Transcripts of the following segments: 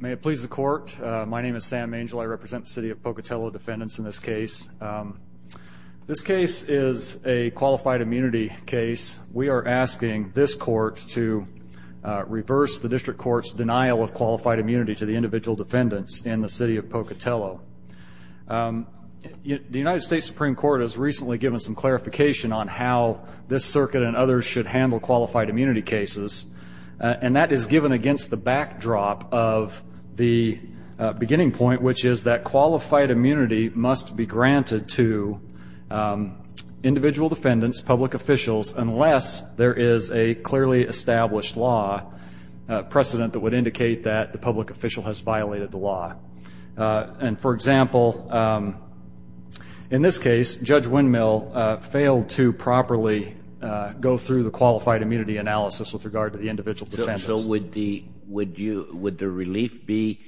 May it please the court. My name is Sam Mangel. I represent the City of Pocatello defendants in this case. This case is a qualified immunity case. We are asking this court to reverse the District Court's denial of qualified immunity to the individual defendants in the City of Pocatello. The United States Supreme Court has recently given some clarification on how this circuit and others should handle qualified immunity cases. And that is given against the backdrop of the beginning point, which is that qualified immunity must be granted to individual defendants, public officials, unless there is a clearly established law precedent that would indicate that the public official has violated the law. And for example, in this case, Judge Windmill failed to properly go through the qualified immunity analysis with regard to the individual defendants. So would the relief be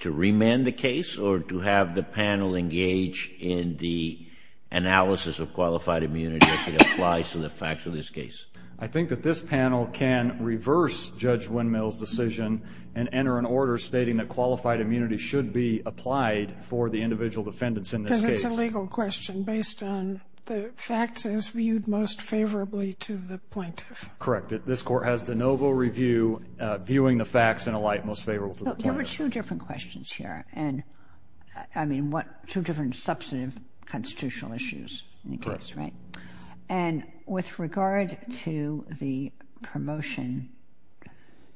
to remand the case or to have the panel engage in the analysis of qualified immunity as it applies to the facts of this case? I think that this panel can reverse Judge Windmill's decision and enter an order stating that qualified immunity should be applied for the individual defendants in this case. Because it's a legal question based on the facts as viewed most favorably to the plaintiff. Correct. This court has de novo review viewing the facts in a light most favorable to the plaintiff. There were two different questions here. And I mean, what two different substantive constitutional issues in the case, right? And with regard to the promotion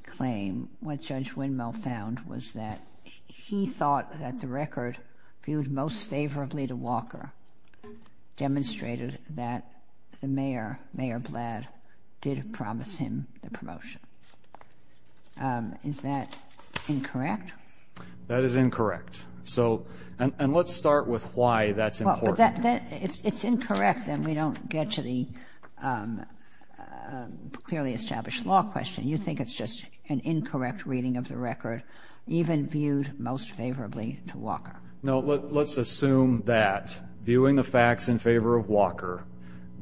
claim, what Judge Windmill found was that he thought that the record viewed most favorably to Walker demonstrated that the mayor, Mayor Blatt, did promise him the promotion. Is that incorrect? That is incorrect. So, and let's start with why that's important. If it's incorrect, then we don't get to the clearly established law question. You think it's just an incorrect reading of the record even viewed most favorably to Walker. No, let's assume that viewing the facts in favor of Walker,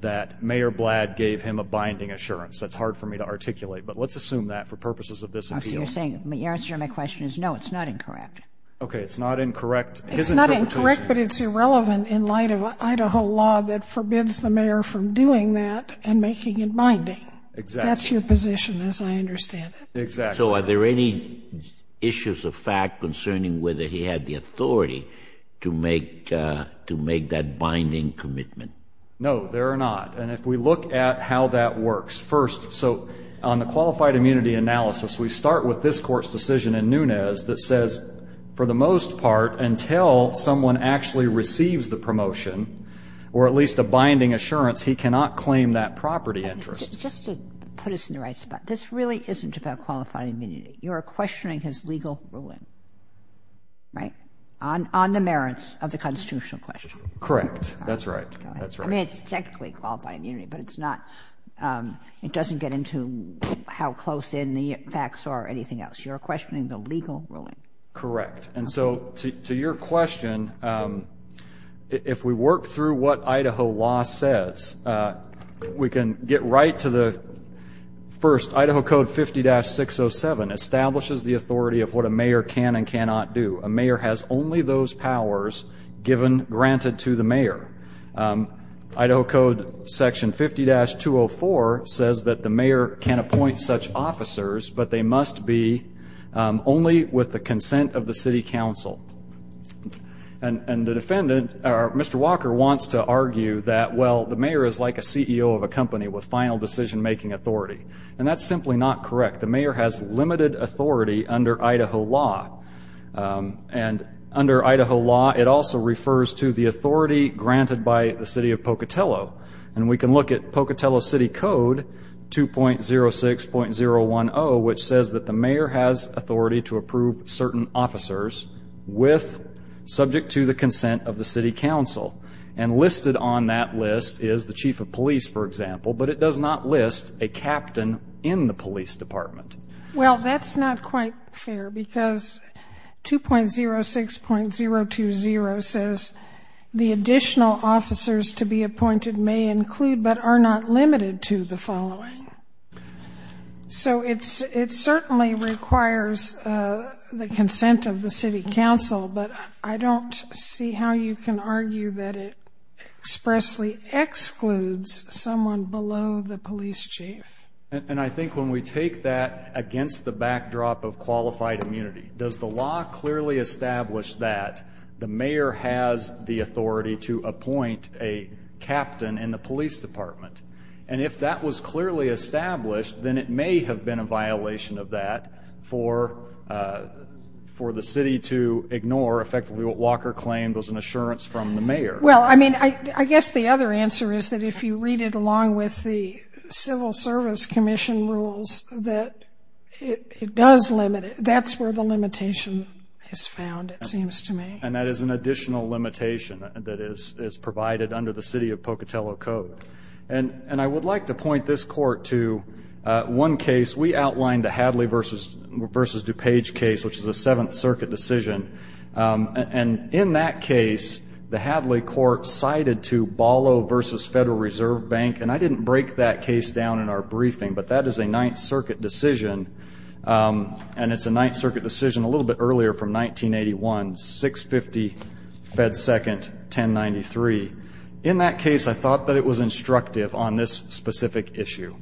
that Mayor Blatt gave him a binding assurance. That's hard for me to articulate, but let's assume that for purposes of this appeal. So you're saying, the answer to my question is no, it's not incorrect. Okay, it's not incorrect. It's not incorrect, but it's irrelevant in light of Idaho law that forbids the mayor from doing that and making it binding. Exactly. That's your position as I understand it. Exactly. And so are there any issues of fact concerning whether he had the authority to make, to make that binding commitment? No, there are not. And if we look at how that works, first, so on the qualified immunity analysis, we start with this Court's decision in Nunez that says, for the most part, until someone actually receives the promotion, or at least a binding assurance, he cannot claim that property interest. Just to put us in the right spot, this really isn't about qualified immunity. You're questioning his legal ruling, right, on the merits of the constitutional question. Correct. That's right. I mean, it's technically qualified immunity, but it's not, it doesn't get into how close in the facts are or anything else. You're questioning the legal ruling. Correct. And so to your question, if we work through what Idaho law says, we can get right to the first. Idaho Code 50-607 establishes the authority of what a mayor can and cannot do. A mayor has only those powers given, granted to the mayor. Idaho Code Section 50-204 says that the mayor can appoint such officers, but they must be only with the consent of the city council. And the defendant, Mr. Walker, wants to argue that, well, the mayor is like a CEO of a company with final decision-making authority. And that's simply not correct. The mayor has limited authority under Idaho law. And under Idaho law, it also refers to the authority granted by the city of Pocatello. And we can look at Pocatello City Code 2.06.010, which says that the mayor has authority to approve certain officers with subject to the consent of the city council. And listed on that list is the chief of police, for example, but it does not list a captain in the police department. Well, that's not quite fair because 2.06.020 says the additional officers to be appointed may include, but are not limited to, the following. So it certainly requires the consent of the city council, but I don't see how you can argue that it expressly excludes someone below the police chief. And I think when we take that against the backdrop of qualified immunity, does the law clearly establish that the mayor has the authority to appoint a captain in the police department? And if that was clearly established, then it may have been a violation of that for the city to ignore, effectively, what Walker claimed was an assurance from the mayor. Well, I mean, I guess the other answer is that if you read it along with the Civil Service Commission rules, that it does limit it. That's where the limitation is found, it seems to me. And that is an additional limitation that is provided under the City of Pocatello Code. And I would like to point this court to one case. We outlined the Hadley v. DuPage case, which is a Seventh Circuit decision. And in that case, the Hadley court cited to Ballo v. Federal Reserve Bank, and I didn't break that case down in our briefing, but that is a Ninth Circuit decision, and it's a Ninth Circuit decision a little bit earlier from 1981, 650 Fed Second, 1093. In that case, I thought that it was instructive on this specific issue.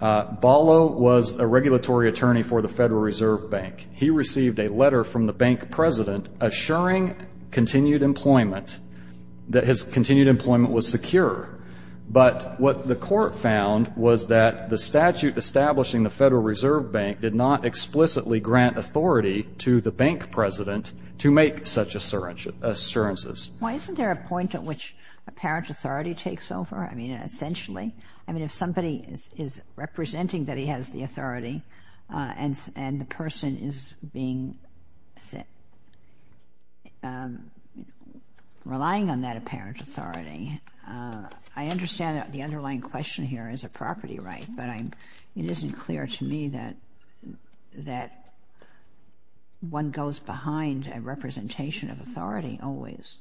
Ballo was a regulatory attorney for the Federal Reserve Bank. He received a letter from the bank president assuring continued employment, that his continued employment was secure. But what the court found was that the statute establishing the Federal Reserve Bank did not explicitly grant authority to the bank president to make such assurances. Why isn't there a point at which apparent authority takes over, I mean, essentially? I mean, if somebody is representing that he has the authority and the person is relying on that apparent authority, I understand that the underlying question here is a property right, but it isn't clear to me that one goes behind a representation of authority always.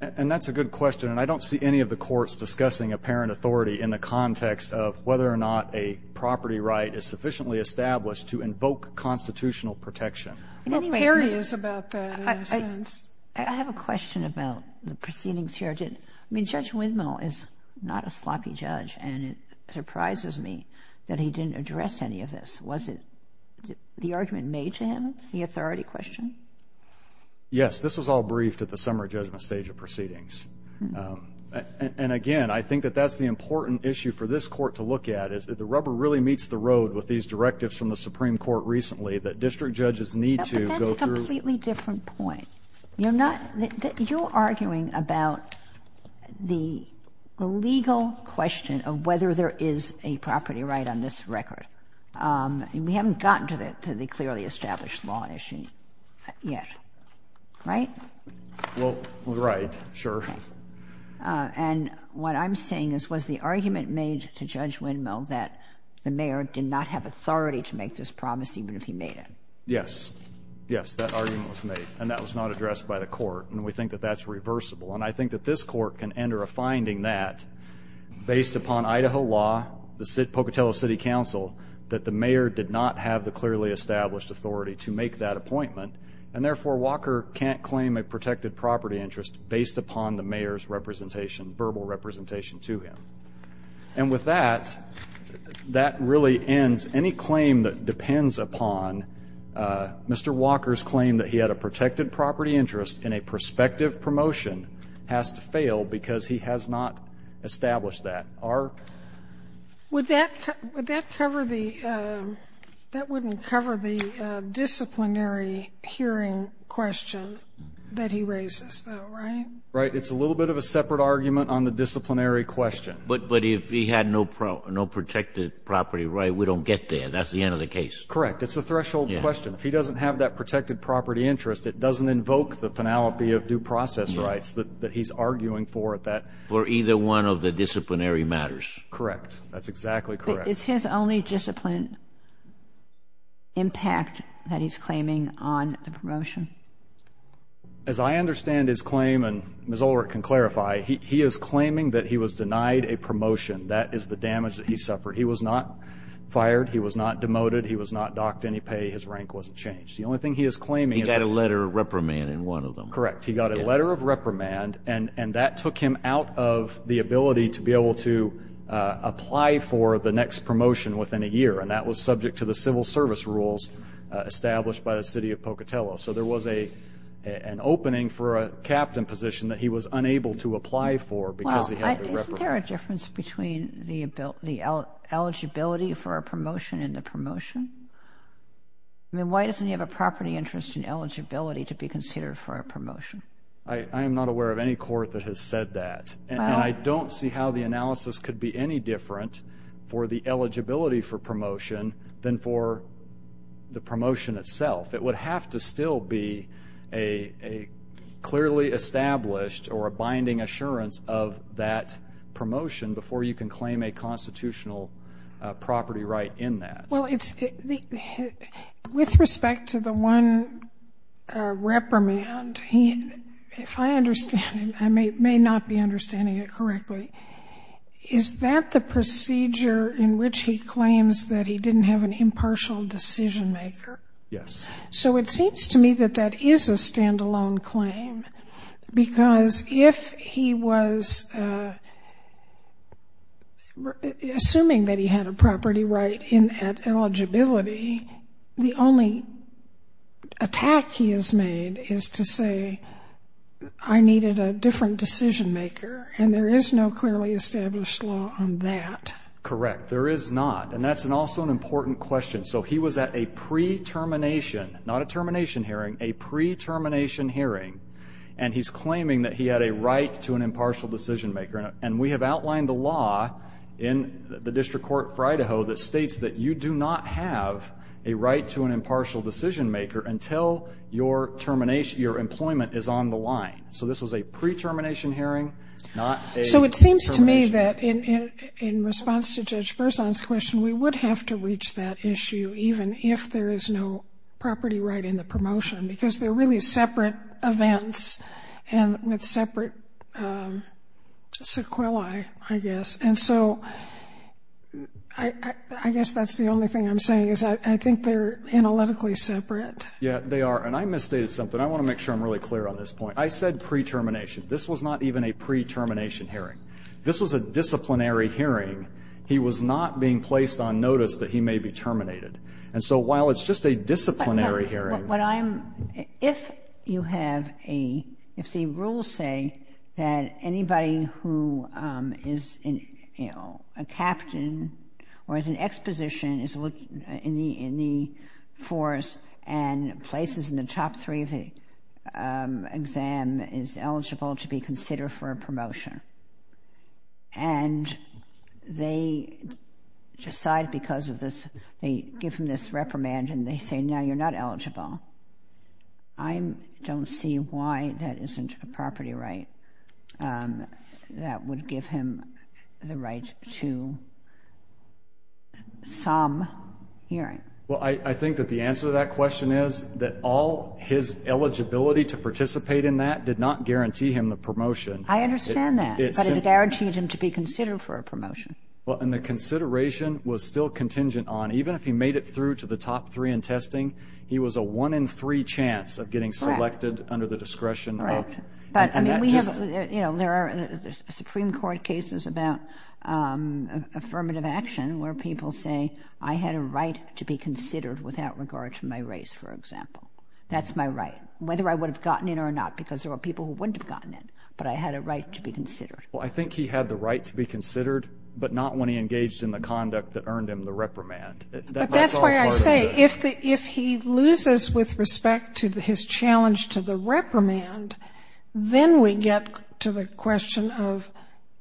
And that's a good question, and I don't see any of the courts discussing apparent authority in the context of whether or not a property right is sufficiently established to invoke constitutional protection. Well, Perry is about that in a sense. I have a question about the proceedings here. I mean, Judge Widmo is not a sloppy judge, and it surprises me that he didn't address any of this. Was it the argument made to him, the authority question? Yes, this was all briefed at the summary judgment stage of proceedings. And, again, I think that that's the important issue for this Court to look at, is that the rubber really meets the road with these directives from the Supreme Court recently that district judges need to go through. But that's a completely different point. You're arguing about the legal question of whether there is a property right on this record. And we haven't gotten to the clearly established law issue yet, right? Well, right, sure. And what I'm saying is, was the argument made to Judge Widmo that the mayor did not have authority to make this promise even if he made it? Yes. Yes, that argument was made, and that was not addressed by the Court. And we think that that's reversible. And I think that this Court can enter a finding that, based upon Idaho law, the Pocatello City Council, that the mayor did not have the clearly established authority to make that appointment, and therefore Walker can't claim a protected property interest based upon the mayor's representation, verbal representation to him. And with that, that really ends any claim that depends upon Mr. Walker's claim that he had a protected property interest in a prospective promotion has to fail because he has not established that. Our ---- Would that cover the ---- that wouldn't cover the disciplinary hearing question that he raises, though, right? Right. It's a little bit of a separate argument on the disciplinary question. But if he had no protected property right, we don't get there. That's the end of the case. Correct. It's a threshold question. If he doesn't have that protected property interest, it doesn't invoke the penalty of due process rights that he's arguing for at that ---- For either one of the disciplinary matters. Correct. That's exactly correct. But it's his only disciplined impact that he's claiming on the promotion. As I understand his claim, and Ms. Ulrich can clarify, he is claiming that he was denied a promotion. That is the damage that he suffered. He was not fired. He was not demoted. He was not docked any pay. His rank wasn't changed. The only thing he is claiming is that ---- He got a letter of reprimand in one of them. Correct. He got a letter of reprimand, and that took him out of the ability to be able to apply for the next promotion within a year, and that was subject to the civil service rules established by the city of Pocatello. So there was an opening for a captain position that he was unable to apply for because he had to be reprimanded. Isn't there a difference between the eligibility for a promotion and the promotion? I mean, why doesn't he have a property interest in eligibility to be considered for a promotion? I am not aware of any court that has said that, and I don't see how the analysis could be any different for the eligibility for promotion than for the promotion itself. It would have to still be a clearly established or a binding assurance of that promotion before you can claim a constitutional property right in that. Well, with respect to the one reprimand, if I understand it, I may not be understanding it correctly. Is that the procedure in which he claims that he didn't have an impartial decision maker? Yes. So it seems to me that that is a standalone claim, because if he was assuming that he had a property right at eligibility, the only attack he has made is to say, I needed a different decision maker, and there is no clearly established law on that. Correct. There is not, and that's also an important question. So he was at a pre-termination, not a termination hearing, a pre-termination hearing, and he's claiming that he had a right to an impartial decision maker, and we have outlined the law in the District Court of Idaho that states that you do not have a right to an impartial decision maker until your employment is on the line. So this was a pre-termination hearing, not a termination hearing. It seems to me that in response to Judge Berzon's question, we would have to reach that issue even if there is no property right in the promotion, because they're really separate events and with separate sequelae, I guess. And so I guess that's the only thing I'm saying is I think they're analytically separate. Yeah, they are, and I misstated something. I want to make sure I'm really clear on this point. I said pre-termination. This was not even a pre-termination hearing. This was a disciplinary hearing. He was not being placed on notice that he may be terminated. And so while it's just a disciplinary hearing. But what I'm — if you have a — if the rules say that anybody who is, you know, a captain or is an exposition is in the force and places in the top three of the exam is eligible to be considered for a promotion, and they decide because of this, they give him this reprimand, and they say, no, you're not eligible, I don't see why that isn't a property right that would give him the right to some hearing. Well, I think that the answer to that question is that all his eligibility to participate in that did not guarantee him the promotion. I understand that. But it guaranteed him to be considered for a promotion. Well, and the consideration was still contingent on, even if he made it through to the top three in testing, he was a one-in-three chance of getting selected under the discretion of — But, I mean, we have — you know, there are Supreme Court cases about affirmative action where people say, I had a right to be considered without regard to my race, for example. That's my right, whether I would have gotten it or not, because there were people who wouldn't have gotten it. But I had a right to be considered. Well, I think he had the right to be considered, but not when he engaged in the conduct that earned him the reprimand. But that's why I say if he loses with respect to his challenge to the reprimand, then we get to the question of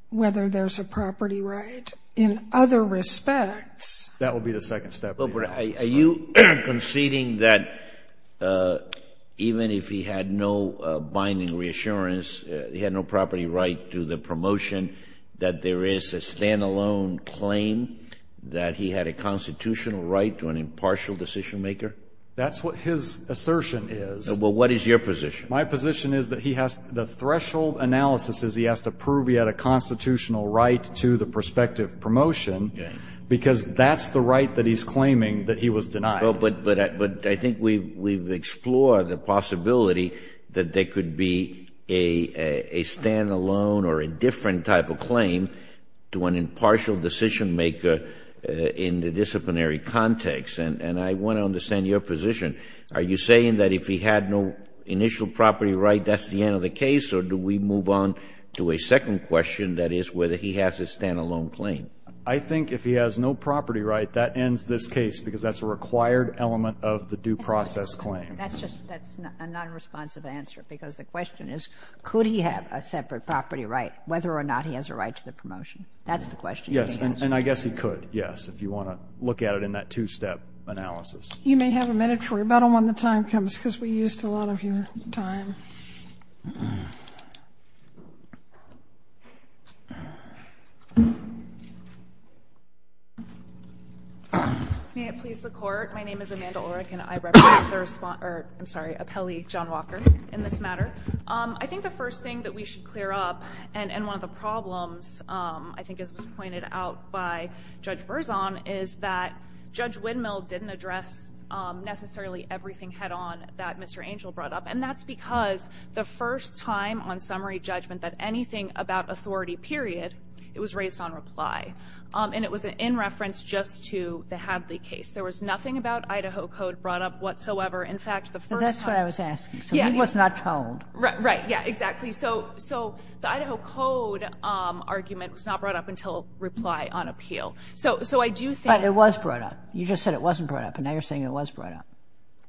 whether there's a property right in other respects. That would be the second step. Are you conceding that even if he had no binding reassurance, he had no property right to the promotion, that there is a stand-alone claim that he had a constitutional right to an impartial decision-maker? That's what his assertion is. Well, what is your position? My position is that he has — the threshold analysis is he has to prove he had a constitutional right to the prospective promotion because that's the right that he's claiming that he was denied. But I think we've explored the possibility that there could be a stand-alone or a different type of claim to an impartial decision-maker in the disciplinary context. And I want to understand your position. Are you saying that if he had no initial property right, that's the end of the case? Or do we move on to a second question, that is, whether he has a stand-alone claim? I think if he has no property right, that ends this case because that's a required element of the due process claim. That's just a nonresponsive answer because the question is, could he have a separate property right whether or not he has a right to the promotion? That's the question. Yes, and I guess he could, yes, if you want to look at it in that two-step analysis. You may have a minute for rebuttal when the time comes because we used a lot of your time. May it please the Court. My name is Amanda Ulrich, and I represent the response, or I'm sorry, appellee John Walker in this matter. I think the first thing that we should clear up, and one of the problems, I think, as was pointed out by Judge Berzon, is that Judge Windmill didn't address necessarily everything head-on that Mr. Angel brought up. And that's because the first time on summary judgment that anything about authority, period, it was raised on reply. And it was in reference just to the Hadley case. There was nothing about Idaho Code brought up whatsoever. In fact, the first time the first time. But that's what I was asking. So he was not told. Right, yeah, exactly. So the Idaho Code argument was not brought up until reply on appeal. So I do think — But it was brought up. You just said it wasn't brought up, and now you're saying it was brought up.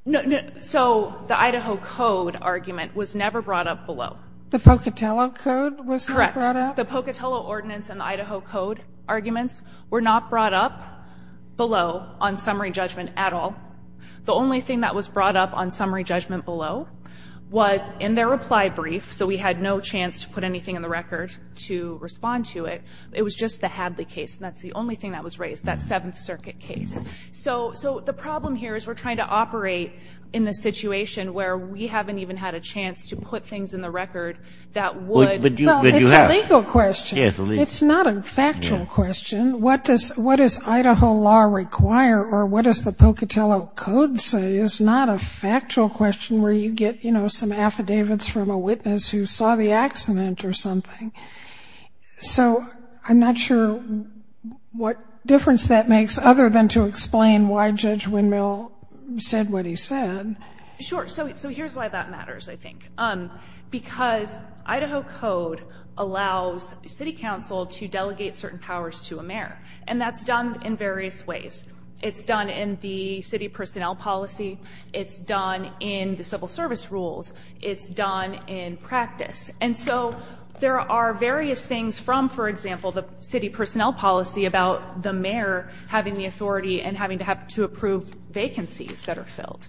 No, no. So the Idaho Code argument was never brought up below. The Pocatello Code was not brought up? Correct. The Pocatello ordinance and the Idaho Code arguments were not brought up below on summary judgment at all. The only thing that was brought up on summary judgment below was in their reply brief. So we had no chance to put anything in the record to respond to it. It was just the Hadley case. And that's the only thing that was raised, that Seventh Circuit case. So the problem here is we're trying to operate in the situation where we haven't even had a chance to put things in the record that would — Well, it's a legal question. It's not a factual question. What does Idaho law require, or what does the Pocatello Code say? It's not a factual question where you get, you know, some affidavits from a witness who saw the accident or something. So I'm not sure what difference that makes other than to explain why Judge Windmill said what he said. Sure. So here's why that matters, I think. Because Idaho Code allows city council to delegate certain powers to a mayor, and that's done in various ways. It's done in the city personnel policy. It's done in the civil service rules. It's done in practice. And so there are various things from, for example, the city personnel policy about the mayor having the authority and having to have to approve vacancies that are filled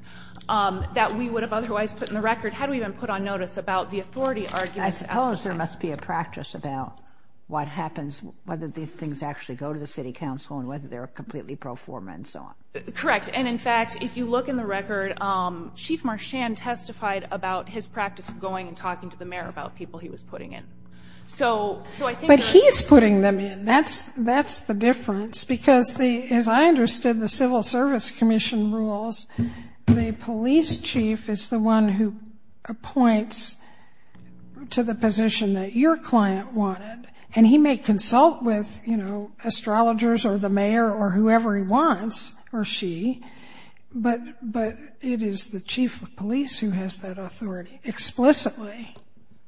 that we would have otherwise put in the record had we been put on notice about the authority arguments. And I suppose there must be a practice about what happens, whether these things actually go to the city council and whether they're completely pro forma and so on. Correct. And, in fact, if you look in the record, Chief Marchand testified about his practice of going and talking to the mayor about people he was putting in. But he's putting them in. That's the difference. Because, as I understood, the Civil Service Commission rules, the police chief is the one who appoints to the position that your client wanted, and he may consult with, you know, astrologers or the mayor or whoever he wants, or she, but it is the chief of police who has that authority explicitly.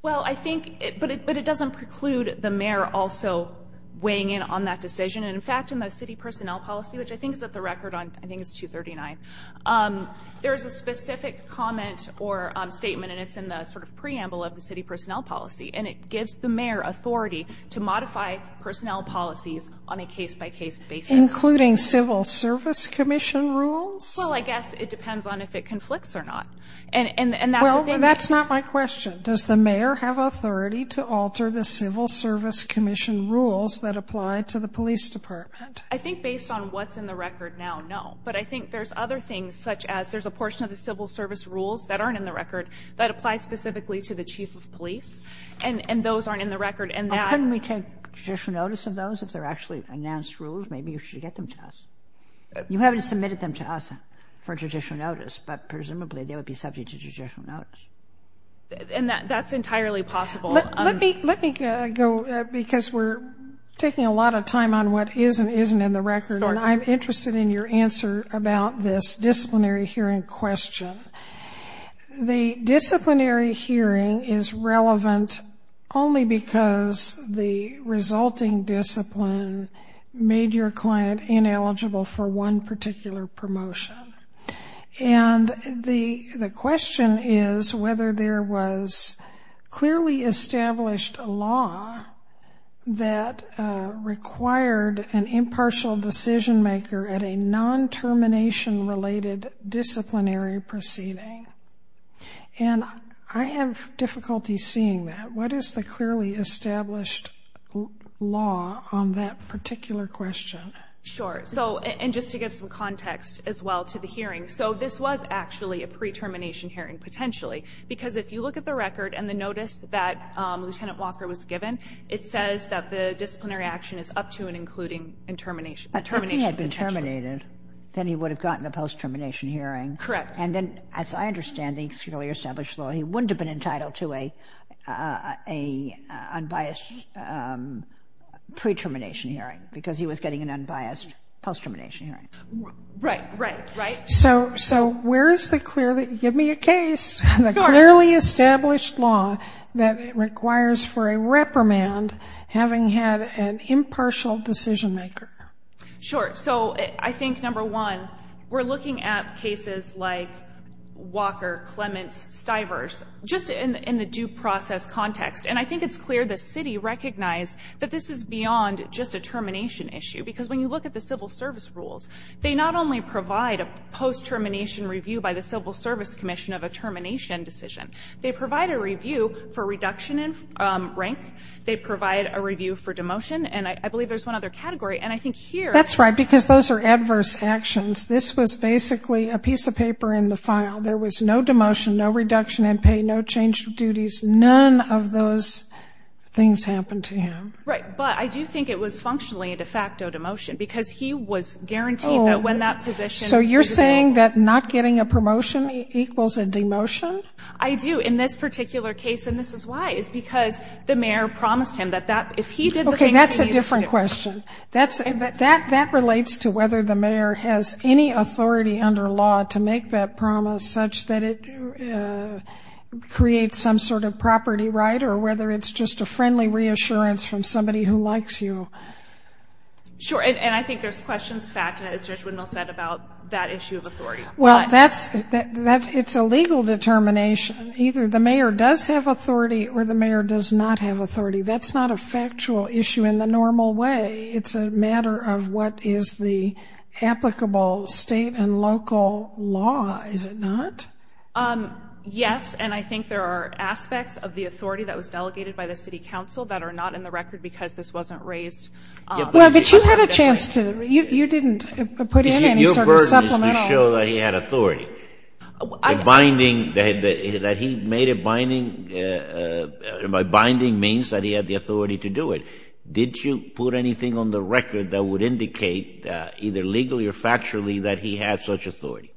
Well, I think, but it doesn't preclude the mayor also weighing in on that decision. And, in fact, in the city personnel policy, which I think is at the record on, I think it's 239, there is a specific comment or statement, and it's in the sort of preamble of the city personnel policy. And it gives the mayor authority to modify personnel policies on a case-by-case basis. Including Civil Service Commission rules? Well, I guess it depends on if it conflicts or not. And that's a danger. Well, that's not my question. Does the mayor have authority to alter the Civil Service Commission rules that apply to the police department? I think based on what's in the record now, no. But I think there's other things, such as there's a portion of the Civil Service rules that aren't in the record that apply specifically to the chief of police. And those aren't in the record. And that — Couldn't we take judicial notice of those if they're actually announced rules? Maybe you should get them to us. You haven't submitted them to us for judicial notice, but presumably they would be subject to judicial notice. And that's entirely possible. Let me go, because we're taking a lot of time on what is and isn't in the record. And I'm interested in your answer about this disciplinary hearing question. The disciplinary hearing is relevant only because the resulting discipline made your client ineligible for one particular promotion. And the question is whether there was clearly established law that required an impartial decision-maker at a non-termination-related disciplinary proceeding. And I have difficulty seeing that. What is the clearly established law on that particular question? Sure. So — and just to give some context as well to the hearing. So this was actually a pre-termination hearing, potentially, because if you look at the record and the notice that Lieutenant Walker was given, it says that the disciplinary action is up to and including in termination — But if he had been terminated, then he would have gotten a post-termination hearing. Correct. And then, as I understand the clearly established law, he wouldn't have been entitled to a unbiased pre-termination hearing because he was getting an unbiased post-termination hearing. Right, right, right. So where is the clearly — give me a case — the clearly established law that requires for a reprimand having had an impartial decision-maker? Sure. So I think, number one, we're looking at cases like Walker, Clements, Stivers, just in the due process context. And I think it's clear the city recognized that this is beyond just a termination issue. Because when you look at the civil service rules, they not only provide a post-termination review by the Civil Service Commission of a termination decision, they provide a review for reduction in rank, they provide a review for demotion, and I believe there's one other category. And I think here — That's right, because those are adverse actions. This was basically a piece of paper in the file. None of those things happened to him. Right. But I do think it was functionally a de facto demotion because he was guaranteed that when that position — So you're saying that not getting a promotion equals a demotion? I do. In this particular case, and this is why, is because the mayor promised him that if he did the things — Okay, that's a different question. That relates to whether the mayor has any authority under law to make that promise such that it creates some sort of property right, or whether it's just a friendly reassurance from somebody who likes you. Sure, and I think there's questions of fact in it, as Judge Widnall said, about that issue of authority. Well, it's a legal determination. Either the mayor does have authority or the mayor does not have authority. That's not a factual issue in the normal way. It's a matter of what is the applicable state and local law, is it not? Yes, and I think there are aspects of the authority that was delegated by the city council that are not in the record because this wasn't raised. Well, but you had a chance to — you didn't put in any sort of supplemental — Your burden is to show that he had authority. The binding — that he made a binding means that he had the authority to do it. Did you put anything on the record that would indicate, either legally or factually, that he had such authority?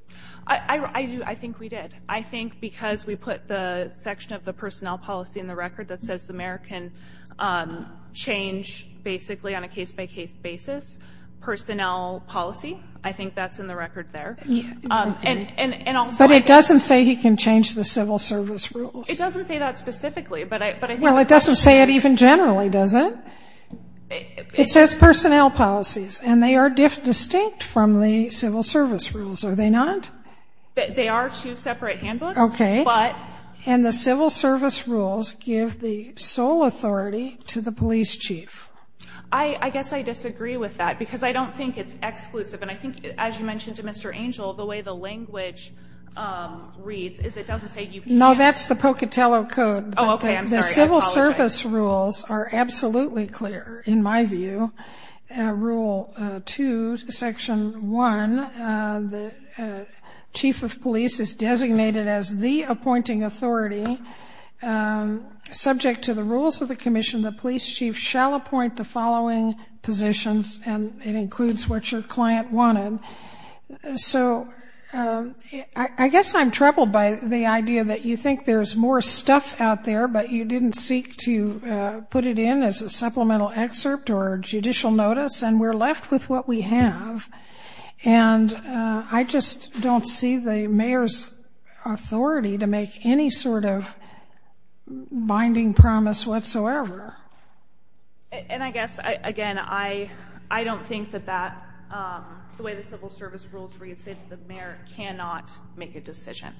I think we did. I think because we put the section of the personnel policy in the record that says the mayor can change basically on a case-by-case basis. Personnel policy, I think that's in the record there. But it doesn't say he can change the civil service rules. It doesn't say that specifically, but I think — Well, it doesn't say it even generally, does it? It says personnel policies, and they are distinct from the civil service rules, are they not? They are two separate handbooks. Okay. But — And the civil service rules give the sole authority to the police chief. I guess I disagree with that because I don't think it's exclusive. And I think, as you mentioned to Mr. Angel, the way the language reads is it doesn't say you can't — No, that's the Pocatello Code. Oh, okay. I'm sorry. I apologize. The civil service rules are absolutely clear, in my view. Rule 2, Section 1, the chief of police is designated as the appointing authority. Subject to the rules of the commission, the police chief shall appoint the following positions, and it includes what your client wanted. So I guess I'm troubled by the idea that you think there's more stuff out there, but you didn't seek to put it in as a supplemental excerpt or judicial notice, and we're left with what we have. And I just don't see the mayor's authority to make any sort of binding promise whatsoever. And I guess, again, I don't think that that — the way the civil service rules read, say that the mayor cannot make a decision.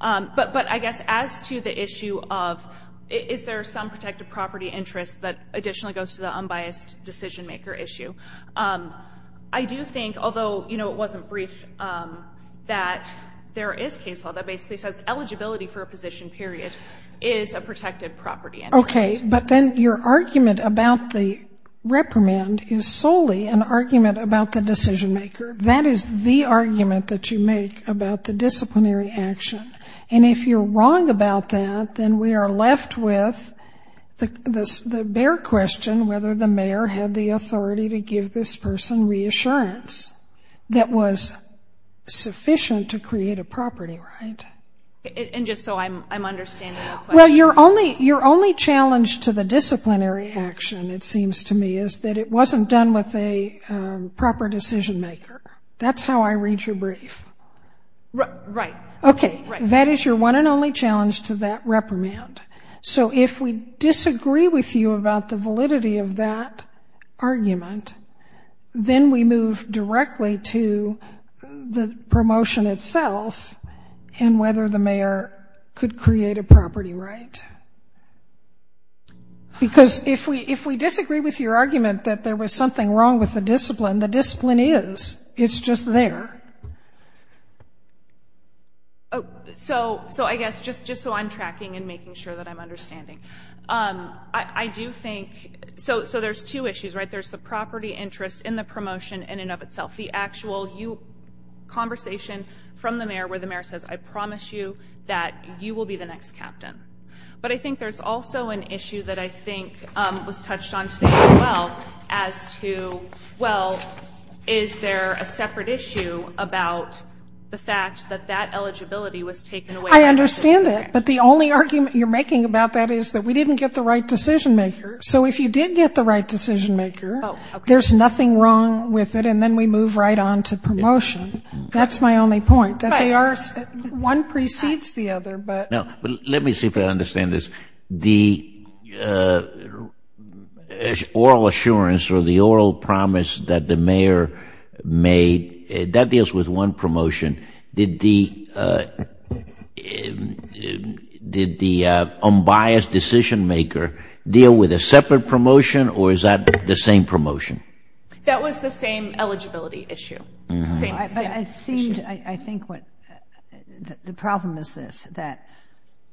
But I guess as to the issue of is there some protective property interest that additionally goes to the unbiased decision-maker issue, I do think, although, you know, it wasn't brief, that there is case law that basically says eligibility for a position period is a protected property interest. Okay, but then your argument about the reprimand is solely an argument about the decision-maker. That is the argument that you make about the disciplinary action. And if you're wrong about that, then we are left with the bare question whether the mayor had the authority to give this person reassurance that was sufficient to create a property, right? And just so I'm understanding the question. Well, your only challenge to the disciplinary action, it seems to me, is that it wasn't done with a proper decision-maker. That's how I read your brief. Right. Okay, that is your one and only challenge to that reprimand. So if we disagree with you about the validity of that argument, then we move directly to the promotion itself and whether the mayor could create a property, right? Because if we disagree with your argument that there was something wrong with the discipline, the discipline is. It's just there. So I guess just so I'm tracking and making sure that I'm understanding. I do think so there's two issues, right? The property interest in the promotion in and of itself. The actual conversation from the mayor where the mayor says, I promise you that you will be the next captain. But I think there's also an issue that I think was touched on today as well as to, well, is there a separate issue about the fact that that eligibility was taken away. I understand that. But the only argument you're making about that is that we didn't get the right decision-maker. So if you did get the right decision-maker, there's nothing wrong with it, and then we move right on to promotion. That's my only point, that they are one precedes the other. But let me see if I understand this. The oral assurance or the oral promise that the mayor made, that deals with one promotion. Did the unbiased decision-maker deal with a separate promotion or is that the same promotion? That was the same eligibility issue. I think what the problem is this, that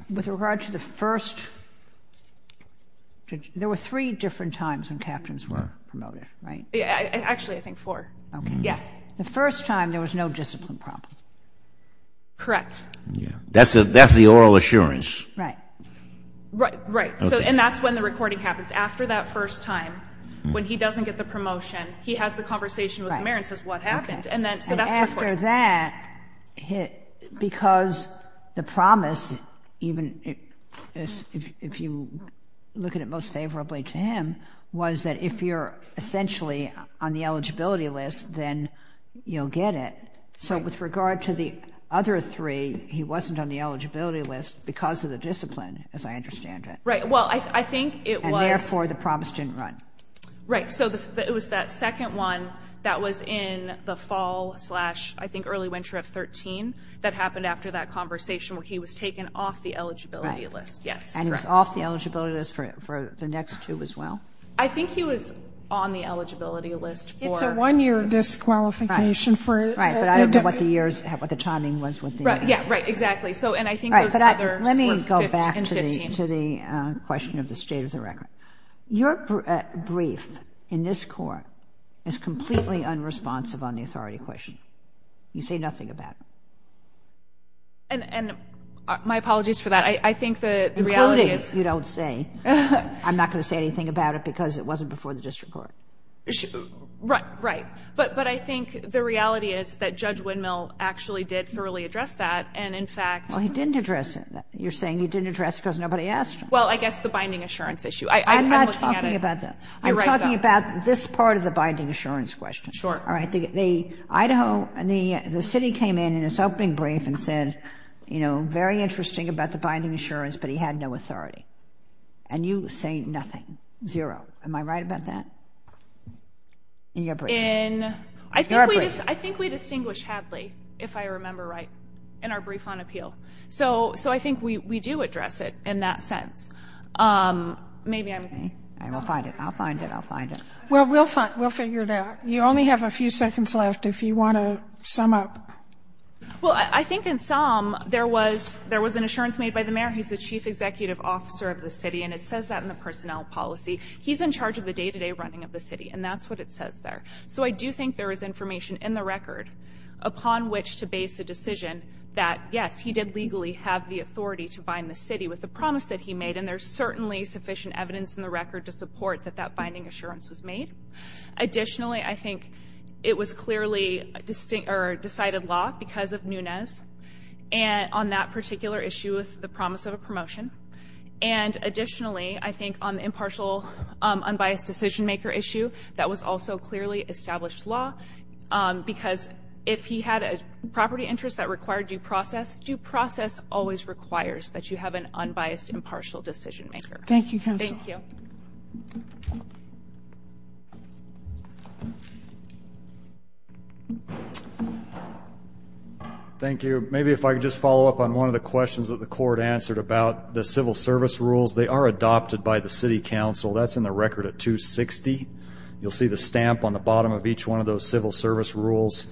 with regard to the first, there were three different times when captains were promoted, right? Actually, I think four. The first time there was no discipline problem. Correct. That's the oral assurance. Right. Right. And that's when the recording happens. After that first time, when he doesn't get the promotion, he has the conversation with the mayor and says what happened. So that's before. After that, because the promise, even if you look at it most favorably to him, was that if you're essentially on the eligibility list, then you'll get it. So with regard to the other three, he wasn't on the eligibility list because of the discipline, as I understand it. Right. Well, I think it was. And therefore, the promise didn't run. Right. So it was that second one that was in the fall slash I think early winter of 2013 that happened after that conversation where he was taken off the eligibility list. Right. Yes, correct. So he was off the eligibility list for the next two as well? I think he was on the eligibility list for... It's a one-year disqualification for... Right. Right. But I don't know what the years, what the timing was with the... Right. Yeah. Right. Exactly. So and I think those others were 15. Right. But let me go back to the question of the state of the record. Your brief in this court is completely unresponsive on the authority question. You say nothing about it. And my apologies for that. I think the reality is... Including. You don't say. I'm not going to say anything about it because it wasn't before the district court. Right. But I think the reality is that Judge Windmill actually did thoroughly address that. And, in fact... Well, he didn't address it. You're saying he didn't address it because nobody asked him. Well, I guess the binding assurance issue. I'm looking at it... I'm talking about this part of the binding assurance question. Sure. All right. Idaho... The city came in in its opening brief and said, you know, very interesting about the binding assurance, but he had no authority. And you say nothing. Zero. Am I right about that? In your brief. In... Your brief. I think we distinguish Hadley, if I remember right, in our brief on appeal. So I think we do address it in that sense. Maybe I'm... Okay. I will find it. I'll find it. I'll find it. Well, we'll figure it out. You only have a few seconds left if you want to sum up. Well, I think in some there was an assurance made by the mayor, who's the chief executive officer of the city, and it says that in the personnel policy. He's in charge of the day-to-day running of the city, and that's what it says there. So I do think there is information in the record upon which to base a decision that, yes, he did legally have the authority to bind the city with the promise that he made, and there's certainly sufficient evidence in the record to support that that binding assurance was made. Additionally, I think it was clearly decided law because of Nunez on that particular issue with the promise of a promotion. And additionally, I think on the impartial unbiased decision-maker issue, that was also clearly established law, because if he had a property interest that required due process, due process always requires that you have an unbiased impartial decision-maker. Thank you, counsel. Thank you. Thank you. Maybe if I could just follow up on one of the questions that the court answered about the civil service rules. They are adopted by the city council. That's in the record at 260. You'll see the stamp on the bottom of each one of those civil service rules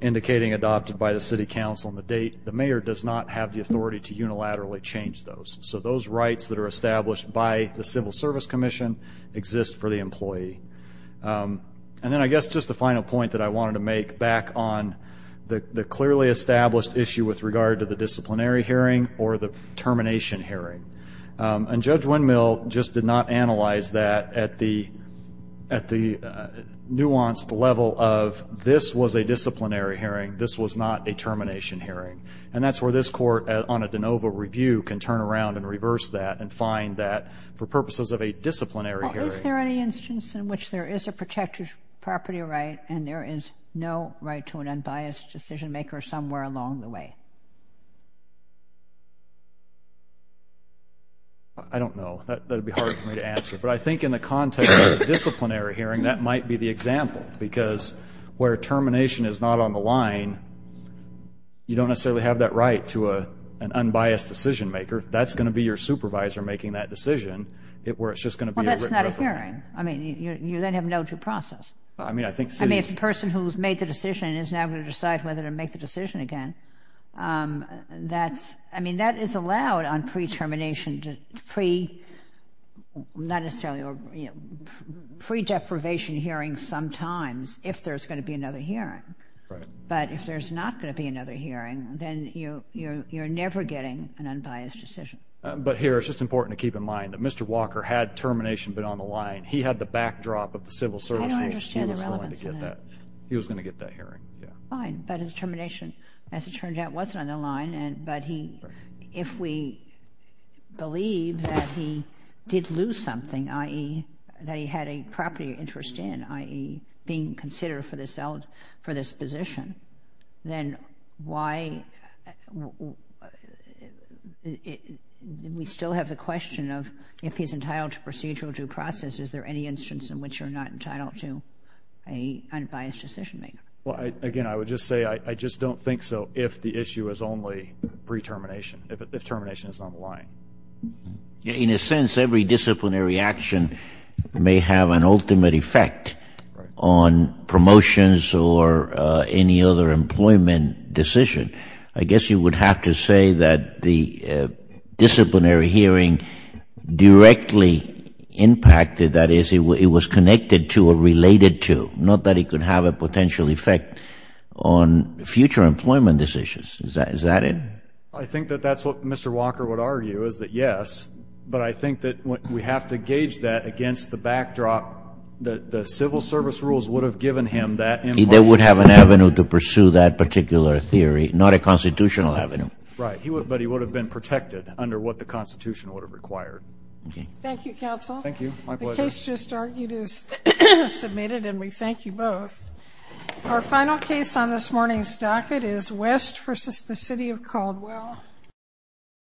indicating adopted by the city council on the date. The mayor does not have the authority to unilaterally change those. So those rights that are established by the civil service commission exist for the employee. And then I guess just the final point that I wanted to make back on the clearly established issue with regard to the disciplinary hearing or the termination hearing. And Judge Windmill just did not analyze that at the nuanced level of this was a disciplinary hearing, this was not a termination hearing. And that's where this court on a de novo review can turn around and reverse that and find that for purposes of a disciplinary hearing. Is there any instance in which there is a protected property right and there is no right to an unbiased decision-maker somewhere along the way? I don't know. That would be hard for me to answer. But I think in the context of a disciplinary hearing, that might be the example because where termination is not on the line, you don't necessarily have that right to an unbiased decision-maker. That's going to be your supervisor making that decision, where it's just going to be a written record. Well, that's not a hearing. I mean, you then have no due process. I mean, if the person who's made the decision is now going to decide whether to make the decision again, that's – I mean, that is allowed on pre-termination – not necessarily – or pre-deprivation hearings sometimes if there's going to be another hearing. Right. But if there's not going to be another hearing, then you're never getting an unbiased decision. But here it's just important to keep in mind that Mr. Walker had termination been on the line. He had the backdrop of the civil service. I understand the relevance of that. He was going to get that hearing. Fine. But his termination, as it turned out, wasn't on the line. But if we believe that he did lose something, i.e., that he had a property interest in, i.e., being considered for this position, then why – we still have the question of if he's entitled to procedural due process. Is there any instance in which you're not entitled to an unbiased decision-making? Well, again, I would just say I just don't think so if the issue is only pre-termination, if termination is on the line. In a sense, every disciplinary action may have an ultimate effect on promotions or any other employment decision. I guess you would have to say that the disciplinary hearing directly impacted, that is, it was connected to or related to, not that it could have a potential effect on future employment decisions. Is that it? I think that that's what Mr. Walker would argue, is that, yes. But I think that we have to gauge that against the backdrop that the civil service rules would have given him that emotional stability. They would have an avenue to pursue that particular theory, not a constitutional avenue. Right. But he would have been protected under what the Constitution would have required. Okay. Thank you, Counsel. Thank you. My pleasure. The case just argued is submitted, and we thank you both. Our final case on this morning's docket is West v. The City of Caldwell.